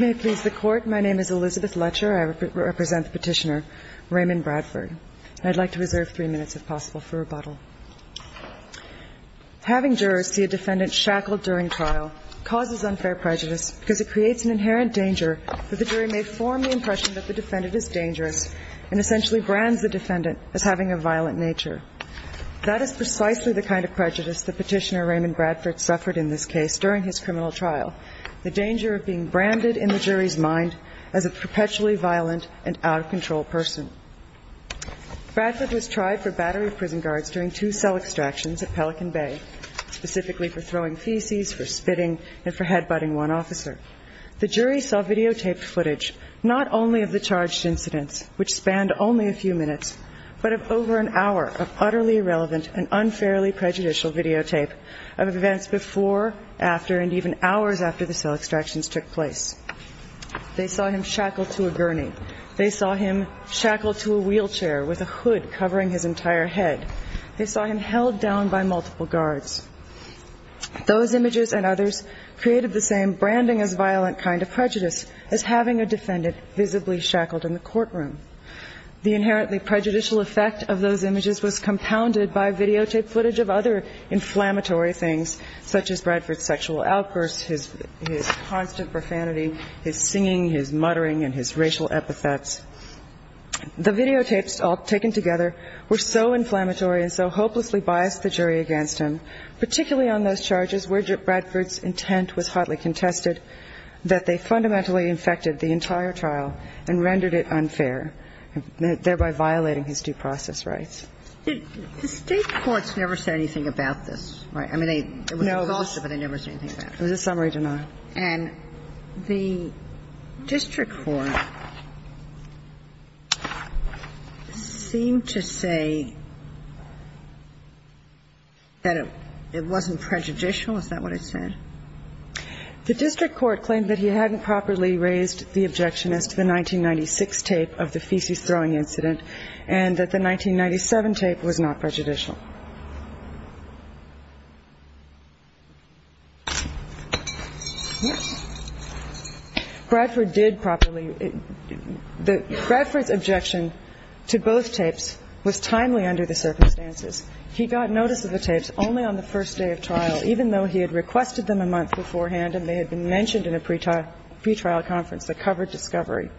May it please the Court, my name is Elizabeth Letcher, I represent the Petitioner Raymond Bradford, and I'd like to reserve three minutes if possible for rebuttal. Having jurors see a defendant shackled during trial causes unfair prejudice because it creates an inherent danger that the jury may form the impression that the defendant is dangerous and essentially brands the defendant as having a violent nature. That is precisely the kind of prejudice that Petitioner Raymond Bradford suffered in this case during his criminal trial, the danger of being branded in the jury's mind as a perpetually violent and out-of-control person. Bradford was tried for battery of prison guards during two cell extractions at Pelican Bay, specifically for throwing feces, for spitting, and for headbutting one officer. The jury saw videotaped footage, not only of the charged incidents, which spanned only a few minutes, but of over an hour of utterly irrelevant and unfairly prejudicial videotape of events before, after, and even hours after the cell extractions took place. They saw him shackled to a gurney. They saw him shackled to a wheelchair with a hood covering his entire head. They saw him held down by multiple guards. Those images and others created the same branding-as-violent kind of prejudice as having a defendant visibly shackled in the courtroom. The inherently prejudicial effect of those images was compounded by videotaped footage of other inflammatory things such as Bradford's sexual outbursts, his constant profanity, his singing, his muttering, and his racial epithets. The videotapes all taken together were so inflammatory and so hopelessly biased the jury against him, particularly on those charges where Bradford's intent was hotly contested, that they fundamentally infected the entire trial and rendered it unfair, thereby violating his due process rights. The State courts never said anything about this, right? I mean, it was exhausted, but they never said anything about it. It was a summary denial. And the district court seemed to say that it wasn't prejudicial. Is that what it said? The district court claimed that he hadn't properly raised the objection as to the 1996 tape of the feces-throwing incident and that the 1997 tape was not prejudicial. Bradford did properly. Bradford's objection to both tapes was timely under the circumstances. He got notice of the tapes only on the first day of trial, even though he had requested them a month beforehand and they had been mentioned in a pretrial conference that covered discovery.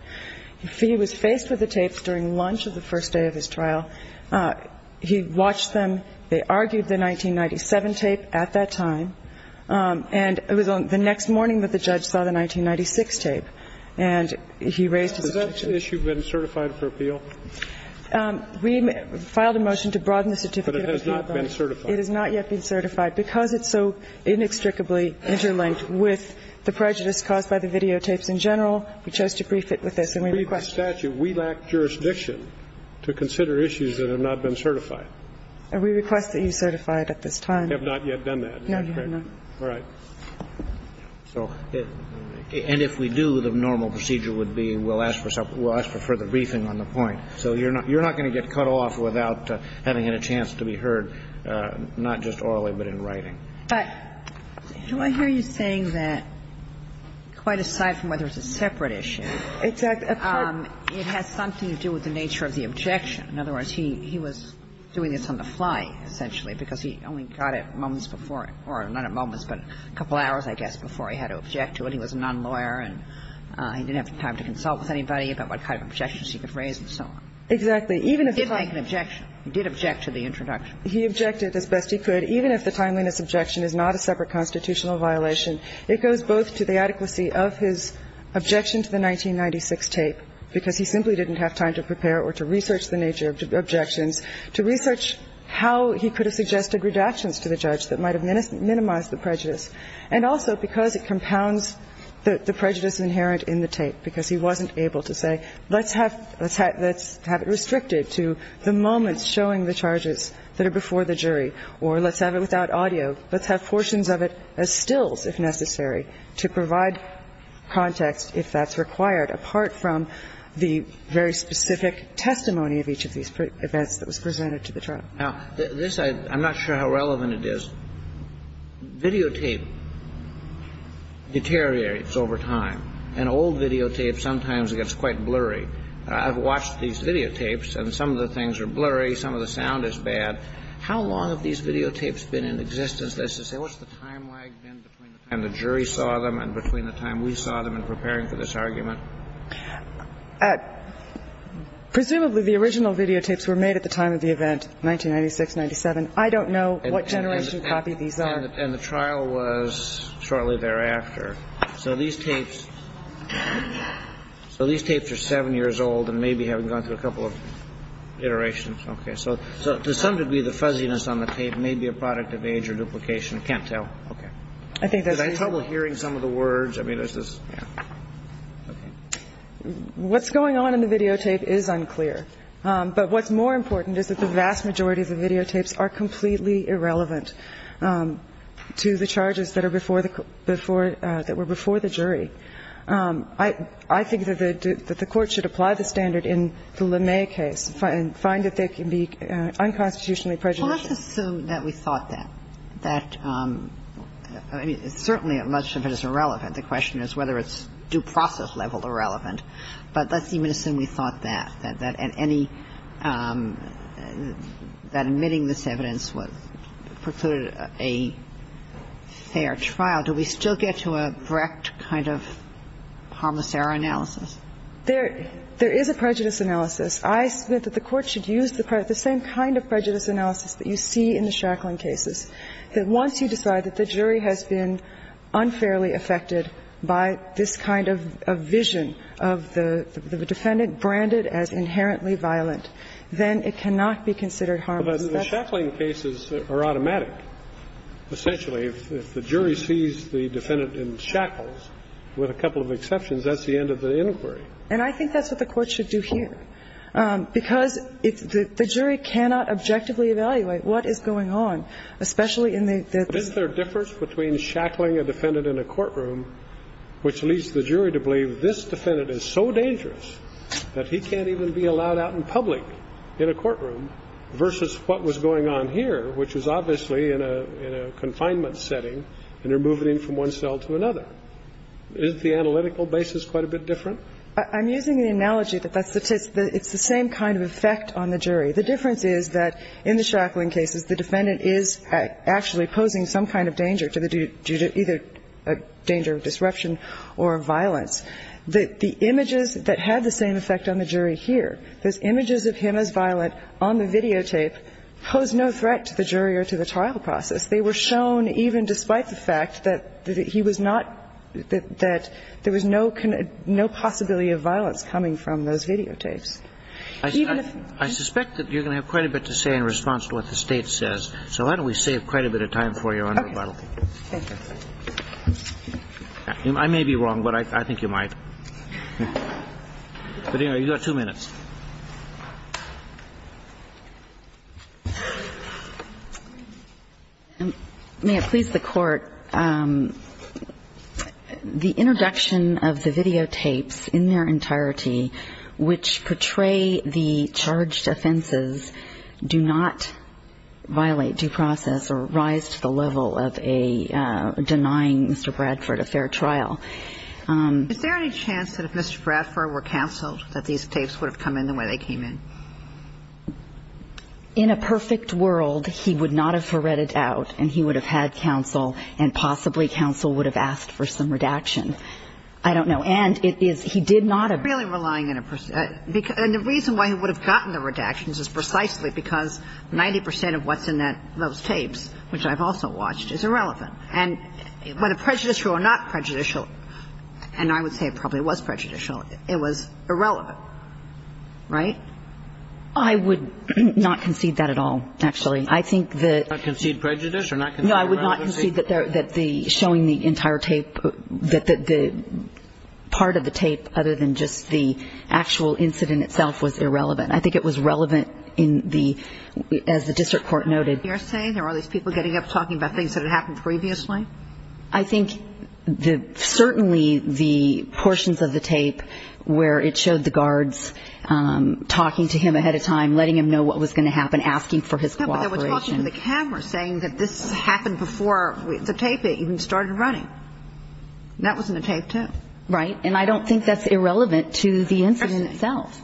He was faced with the tapes during lunch of the first day of his trial. He watched them. They argued the 1997 tape at that time. And it was on the next morning that the judge saw the 1996 tape, and he raised his objection. Has that issue been certified for appeal? We filed a motion to broaden the certificate of appeal. But it has not been certified. It has not yet been certified. Because it's so inextricably interlinked with the prejudice caused by the videotapes in general, we chose to brief it with this. And we request that you certify it at this time. We have not yet done that. No, you have not. All right. And if we do, the normal procedure would be we'll ask for further briefing on the point. So you're not going to get cut off without having a chance to be heard, not just orally, but in writing. But do I hear you saying that quite aside from whether it's a separate issue? Exactly. It has something to do with the nature of the objection. In other words, he was doing this on the fly, essentially, because he only got it moments before or not at moments, but a couple hours, I guess, before he had to object to it. He was a nonlawyer, and he didn't have time to consult with anybody about what kind of objections he could raise and so on. Exactly. He did make an objection. He did object to the introduction. He objected as best he could. Even if the timeliness objection is not a separate constitutional violation, it goes both to the adequacy of his objection to the 1996 tape, because he simply didn't have time to prepare or to research the nature of objections, to research how he could have suggested redactions to the judge that might have minimized the prejudice, and also because it compounds the prejudice inherent in the tape, because he wasn't able to say, let's have it restricted to the moments showing the charges that are before the jury, or let's have it without audio, let's have it with the audio, and then we can have the evidence that's necessary to provide context if that's required, apart from the very specific testimony of each of these events that was presented to the trial. Now, this I'm not sure how relevant it is. Videotape deteriorates over time, and old videotapes sometimes it gets quite blurry. I've watched these videotapes, and some of the things are blurry, some of the sound is bad. How long have these videotapes been in existence? Let's just say, what's the time lag then between the time the jury saw them and between the time we saw them in preparing for this argument? Presumably, the original videotapes were made at the time of the event, 1996-97. I don't know what generation copy these are. And the trial was shortly thereafter. So these tapes are 7 years old and maybe haven't gone through a couple of iterations. Okay. So to some degree, the fuzziness on the tape may be a product of age or duplication. I can't tell. Okay. Did I have trouble hearing some of the words? I mean, is this? Yeah. Okay. What's going on in the videotape is unclear. But what's more important is that the vast majority of the videotapes are completely irrelevant to the charges that were before the jury. I think that the Court should apply the standard in the LeMay case and find that they can be unconstitutionally prejudicial. Well, let's assume that we thought that. That certainly much of it is irrelevant. The question is whether it's due process level irrelevant. But let's assume we thought that, that admitting this evidence precluded a fair trial. Do we still get to a direct kind of harmicera analysis? There is a prejudice analysis. I submit that the Court should use the same kind of prejudice analysis that you see in the Shackling cases, that once you decide that the jury has been unfairly affected by this kind of vision of the defendant branded as inherently violent, then it cannot be considered harmless. Well, but the Shackling cases are automatic. Essentially, if the jury sees the defendant in shackles, with a couple of exceptions, that's the end of the inquiry. And I think that's what the Court should do here. Because if the jury cannot objectively evaluate what is going on, especially in the... Isn't there a difference between shackling a defendant in a courtroom, which leads the jury to believe this defendant is so dangerous that he can't even be allowed out in public in a courtroom, versus what was going on here, which was obviously in a confinement setting, and they're moving him from one cell to another. Isn't the analytical basis quite a bit different? I'm using the analogy that it's the same kind of effect on the jury. The difference is that in the Shackling cases, the defendant is actually posing some kind of danger due to either a danger of disruption or violence. The images that had the same effect on the jury here, those images of him as violent on the videotape, posed no threat to the jury or to the trial process. They were shown, even despite the fact that he was not – that there was no possibility of violence coming from those videotapes. Even if... I suspect that you're going to have quite a bit to say in response to what the State says, so why don't we save quite a bit of time for you on rebuttal. Okay. Thank you. I may be wrong, but I think you might. But, you know, you've got two minutes. May it please the Court. The introduction of the videotapes in their entirety, which portray the charged offenses, do not violate due process or rise to the level of a denying Mr. Bradford a fair trial. Is there any chance that if Mr. Bradford were counseled that these tapes would have come in the way they came in? In a perfect world, he would not have read it out and he would have had counsel and possibly counsel would have asked for some redaction. I don't know. And it is – he did not have... I'm really relying on a – and the reason why he would have gotten the redactions is precisely because 90 percent of what's in those tapes, which I've also watched, is irrelevant. And whether prejudicial or not prejudicial, and I would say it probably was prejudicial, it was irrelevant. Right? I would not concede that at all, actually. I think that... Not concede prejudice or not concede irrelevancy? I would not concede that the – showing the entire tape – that the part of the tape other than just the actual incident itself was irrelevant. I think it was relevant in the – as the district court noted. You're saying there are these people getting up talking about things that had happened previously? I think the – certainly the portions of the tape where it showed the guards talking to him ahead of time, letting him know what was going to happen, asking for his cooperation. But there was talking to the camera saying that this happened before the tape even started running. That wasn't a tape, too. Right. And I don't think that's irrelevant to the incident itself.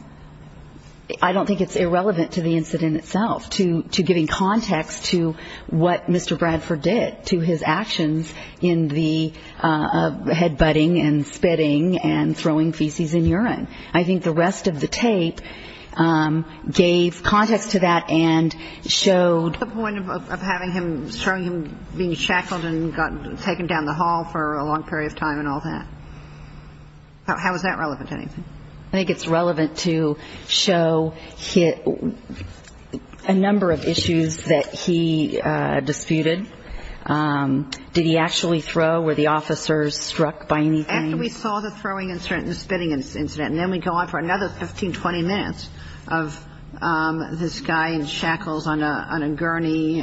I don't think it's irrelevant to the incident itself, to giving context to what Mr. Bradford did, to his actions in the head-butting and spitting and throwing feces in urine. I think the rest of the tape gave context to that and showed – What's the point of having him – showing him being shackled and taken down the hall for a long period of time and all that? How is that relevant to anything? I think it's relevant to show a number of issues that he disputed. Did he actually throw? Were the officers struck by anything? After we saw the throwing incident and the spitting incident, and then we go on for another 15, 20 minutes of this guy in shackles on a gurney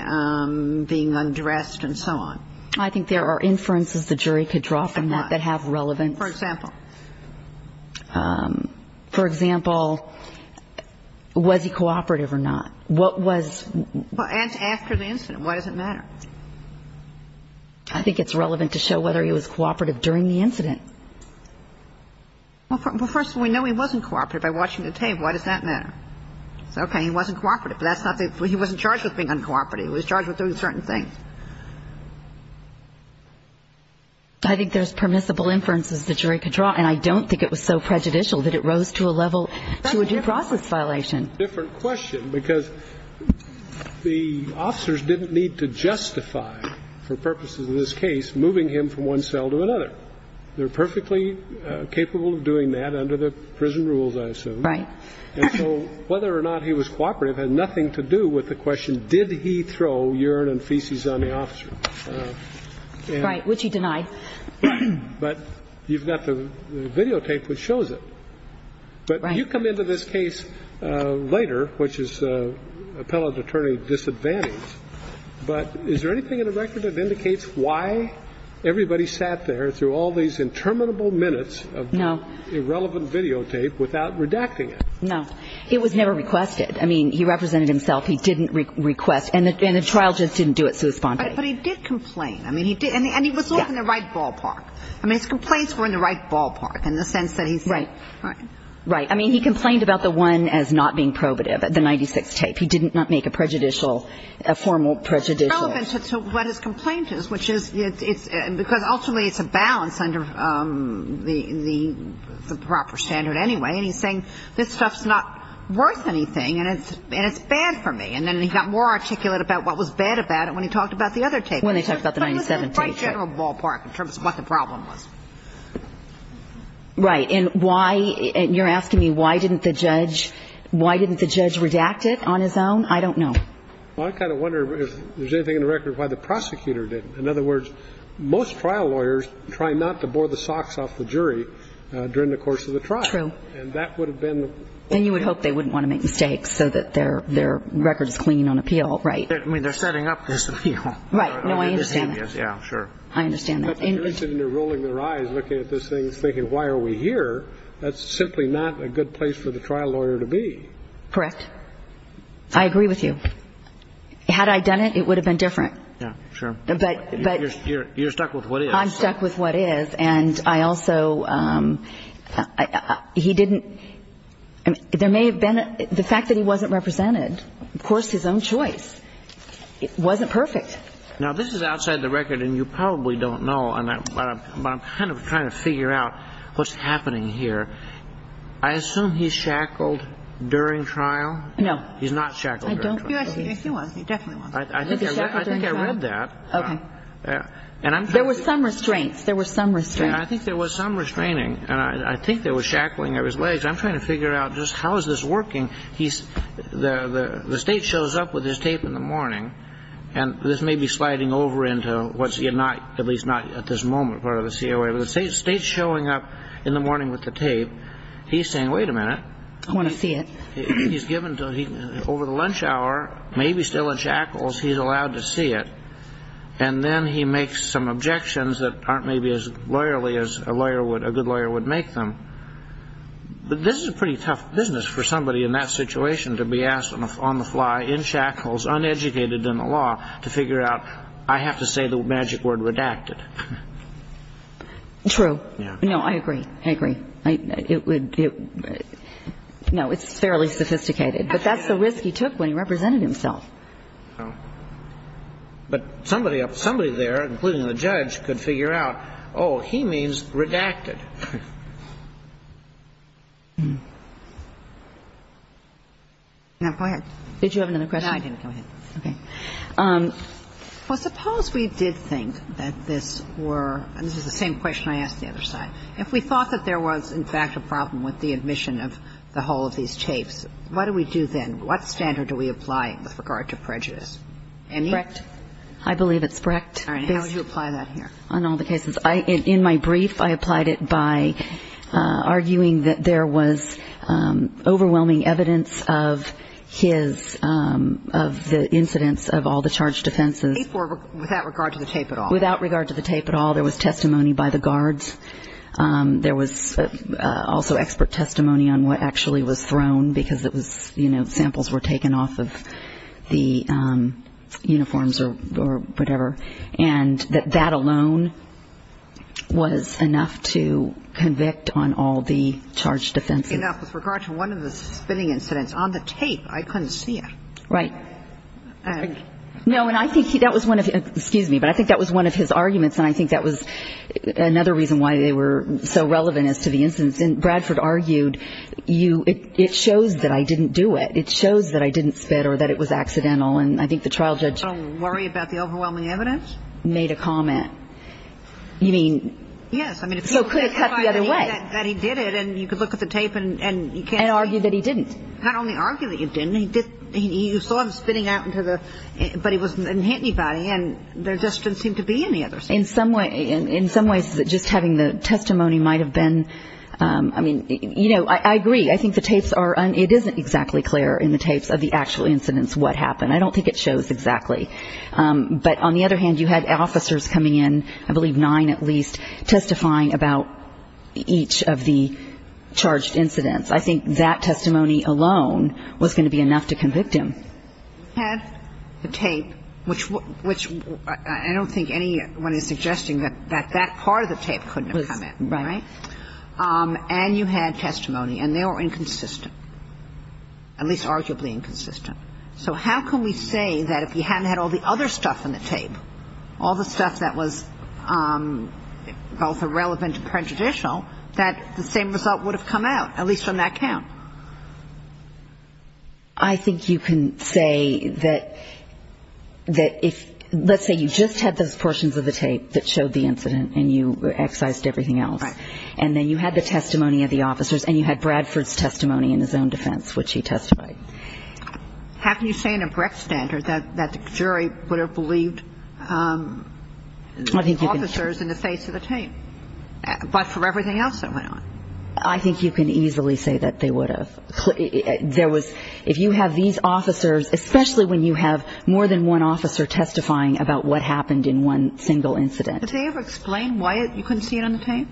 being undressed and so on. I think there are inferences the jury could draw from that that have relevance. For example? For example, was he cooperative or not? Well, after the incident. Why does it matter? I think it's relevant to show whether he was cooperative during the incident. Well, first of all, we know he wasn't cooperative by watching the tape. Why does that matter? Okay, he wasn't cooperative, but that's not the – he wasn't charged with being uncooperative. He was charged with doing certain things. I think there's permissible inferences the jury could draw. And I don't think it was so prejudicial that it rose to a level – to a due process violation. Well, that's a different question because the officers didn't need to justify, for purposes of this case, moving him from one cell to another. They're perfectly capable of doing that under the prison rules, I assume. Right. And so whether or not he was cooperative had nothing to do with the question, did he throw urine and feces on the officer. Right, which he denied. But you've got the videotape which shows it. Right. You come into this case later, which is appellate attorney disadvantaged, but is there anything in the record that indicates why everybody sat there through all these interminable minutes of irrelevant videotape without redacting it? No. It was never requested. I mean, he represented himself. He didn't request. And the trial just didn't do it sous-spende. But he did complain. I mean, he did. And he was in the right ballpark. I mean, his complaints were in the right ballpark in the sense that he said. Right. I mean, he complained about the one as not being probative, the 96 tape. He did not make a prejudicial, a formal prejudicial. It's relevant to what his complaint is, which is it's because ultimately it's a balance under the proper standard anyway, and he's saying this stuff's not worth anything and it's bad for me. And then he got more articulate about what was bad about it when he talked about the other tape. When they talked about the 97 tape. It was in the right general ballpark in terms of what the problem was. Right. And why you're asking me, why didn't the judge why didn't the judge redacted on his own? I don't know. I kind of wonder if there's anything in the record why the prosecutor did. In other words, most trial lawyers try not to bore the socks off the jury during the course of the trial. And that would have been. And you would hope they wouldn't want to make mistakes so that their their record is clean on appeal. Right. I mean, they're setting up this appeal. Right. No, I understand. Yeah, sure. I understand. They're rolling their eyes looking at this thing thinking, why are we here? That's simply not a good place for the trial lawyer to be. Correct. I agree with you. Had I done it, it would have been different. Yeah, sure. But you're stuck with what I'm stuck with, what is. And I also he didn't. There may have been the fact that he wasn't represented, of course, his own choice. It wasn't perfect. Now, this is outside the record, and you probably don't know, but I'm kind of trying to figure out what's happening here. I assume he shackled during trial. No. He's not shackled. I don't. Yes, he was. He definitely was. I think I read that. Okay. There were some restraints. There were some restraints. And I think there was some restraining. And I think there was shackling of his legs. I'm trying to figure out just how is this working. The state shows up with his tape in the morning. And this may be sliding over into what's at least not at this moment part of the COA. But the state's showing up in the morning with the tape. He's saying, wait a minute. I want to see it. He's given over the lunch hour, maybe still in shackles, he's allowed to see it. And then he makes some objections that aren't maybe as lawyerly as a good lawyer would make them. But this is a pretty tough business for somebody in that situation to be asked on the fly, in shackles, uneducated in the law, to figure out I have to say the magic word redacted. True. No, I agree. I agree. No, it's fairly sophisticated. But that's the risk he took when he represented himself. But somebody there, including the judge, could figure out, oh, he means redacted. Now, go ahead. Did you have another question? No, I didn't. Go ahead. Okay. Well, suppose we did think that this were, and this is the same question I asked the other side, if we thought that there was, in fact, a problem with the admission of the whole of these tapes, what do we do then? What standard do we apply with regard to prejudice? Any? Brecht. I believe it's Brecht. All right. And how do you apply that here? On all the cases. In my brief, I applied it by arguing that there was overwhelming evidence of his, of the incidents of all the charged offenses. Without regard to the tape at all. Without regard to the tape at all. There was testimony by the guards. There was also expert testimony on what actually was thrown because it was, you know, samples were taken off of the uniforms or whatever. And that that alone was enough to convict on all the charged offenses. Enough with regard to one of the spitting incidents. On the tape, I couldn't see it. Right. No, and I think that was one of the, excuse me, but I think that was one of his arguments, and I think that was another reason why they were so relevant as to the incidents. And Bradford argued, you, it shows that I didn't do it. It shows that I didn't spit or that it was accidental. And I think the trial judge. Don't worry about the overwhelming evidence. Made a comment. You mean. Yes. I mean. So could have cut the other way. That he did it and you could look at the tape and. And argued that he didn't. Not only argue that you didn't. He did. You saw him spitting out into the. But he wasn't hitting anybody. And there just didn't seem to be any other. In some way, in some ways, just having the testimony might have been. I mean, you know, I agree. I think the tapes are. It isn't exactly clear in the tapes of the actual incidents what happened. I don't think it shows exactly. But on the other hand, you had officers coming in, I believe nine at least, testifying about each of the charged incidents. I think that testimony alone was going to be enough to convict him. You had the tape, which I don't think anyone is suggesting that that part of the tape couldn't have come in. Right. And you had testimony. And they were inconsistent, at least arguably inconsistent. So how can we say that if he hadn't had all the other stuff in the tape, all the stuff that was both irrelevant and prejudicial, that the same result would have come out, at least on that count? I think you can say that if, let's say you just had those portions of the tape that showed the incident and you excised everything else. Right. And then you had the testimony of the officers and you had Bradford's testimony in his own defense, which he testified. How can you say on a correct standard that the jury would have believed the officers in the face of the tape, but for everything else that went on? I think you can easily say that they would have. There was – if you have these officers, especially when you have more than one officer testifying about what happened in one single incident. Did they ever explain why you couldn't see it on the tape?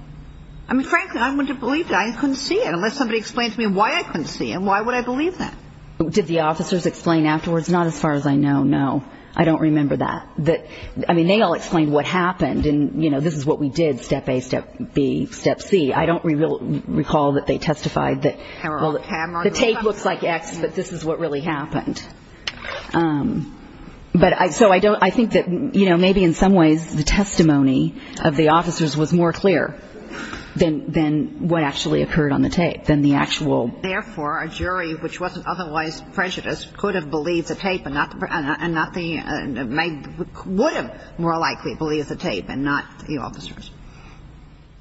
I mean, frankly, I wouldn't have believed it. I couldn't see it unless somebody explained to me why I couldn't see it and why would I believe that? Did the officers explain afterwards? Not as far as I know, no. I don't remember that. I mean, they all explained what happened and, you know, this is what we did, step A, step B, step C. I don't recall that they testified that, well, the tape looks like X, but this is what really happened. So I think that, you know, maybe in some ways the testimony of the officers was more clear than what actually occurred on the tape, than the actual. And therefore, a jury, which wasn't otherwise prejudiced, could have believed the tape and not the – would have more likely believed the tape and not the officers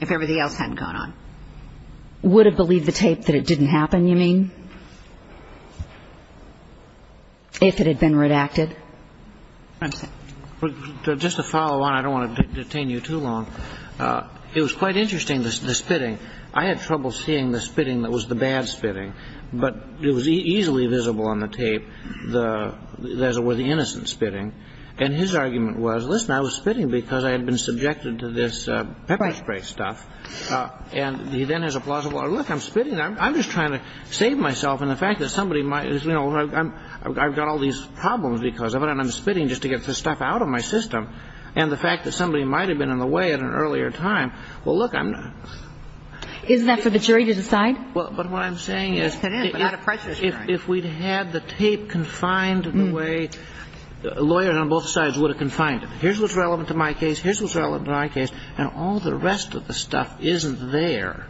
if everything else hadn't gone on. Would have believed the tape that it didn't happen, you mean, if it had been redacted? Just to follow on, I don't want to detain you too long. It was quite interesting, the spitting. I had trouble seeing the spitting that was the bad spitting. But it was easily visible on the tape, as it were, the innocent spitting. And his argument was, listen, I was spitting because I had been subjected to this pepper spray stuff. And he then has a plausible, look, I'm spitting, I'm just trying to save myself. And the fact that somebody might, you know, I've got all these problems because of it, and I'm spitting just to get the stuff out of my system. And the fact that somebody might have been in the way at an earlier time, well, look, I'm not. Isn't that for the jury to decide? But what I'm saying is if we'd had the tape confined the way lawyers on both sides would have confined it, here's what's relevant to my case, here's what's relevant to my case, and all the rest of the stuff isn't there,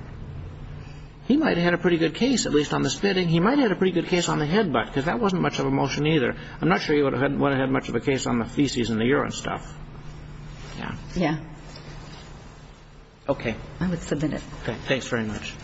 he might have had a pretty good case, at least on the spitting. He might have had a pretty good case on the head butt, because that wasn't much of a motion either. I'm not sure he would have had much of a case on the feces and the urine stuff. Yeah. Yeah. Okay. I would submit it. Okay. Thanks very much.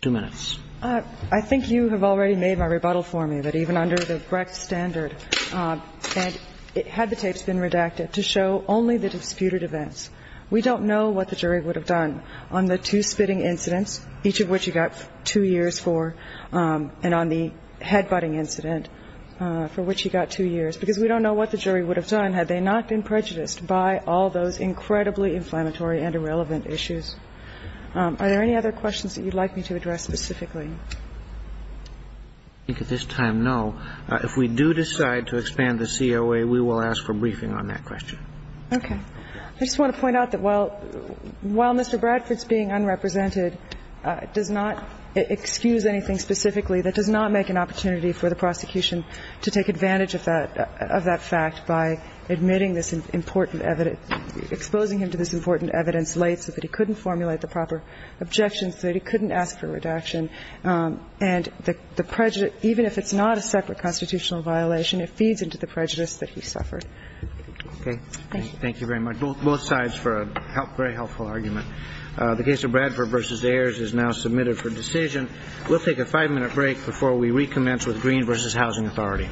Two minutes. I think you have already made my rebuttal for me, that even under the Brecht standard, had the tapes been redacted to show only the disputed events, we don't know what the jury would have done on the two spitting incidents, each of which you got two years for, and on the head butting incident, for which you got two years, because we don't know what the jury would have done had they not been prejudiced by all those incredibly inflammatory and irrelevant issues. Are there any other questions that you'd like me to address specifically? I think at this time, no. If we do decide to expand the COA, we will ask for briefing on that question. Okay. I just want to point out that while Mr. Bradford's being unrepresented does not excuse anything specifically, that does not make an opportunity for the prosecution to take advantage of that fact by admitting this important evidence, exposing him to this important evidence late so that he couldn't formulate the proper objections, so that he couldn't ask for redaction. And the prejudice, even if it's not a separate constitutional violation, it feeds into the prejudice that he suffered. Okay. Thank you. Thank you very much. Both sides for a very helpful argument. The case of Bradford v. Ayers is now submitted for decision. We'll take a five-minute break before we recommence with Green v. Housing Authority. Thank you. Thank you.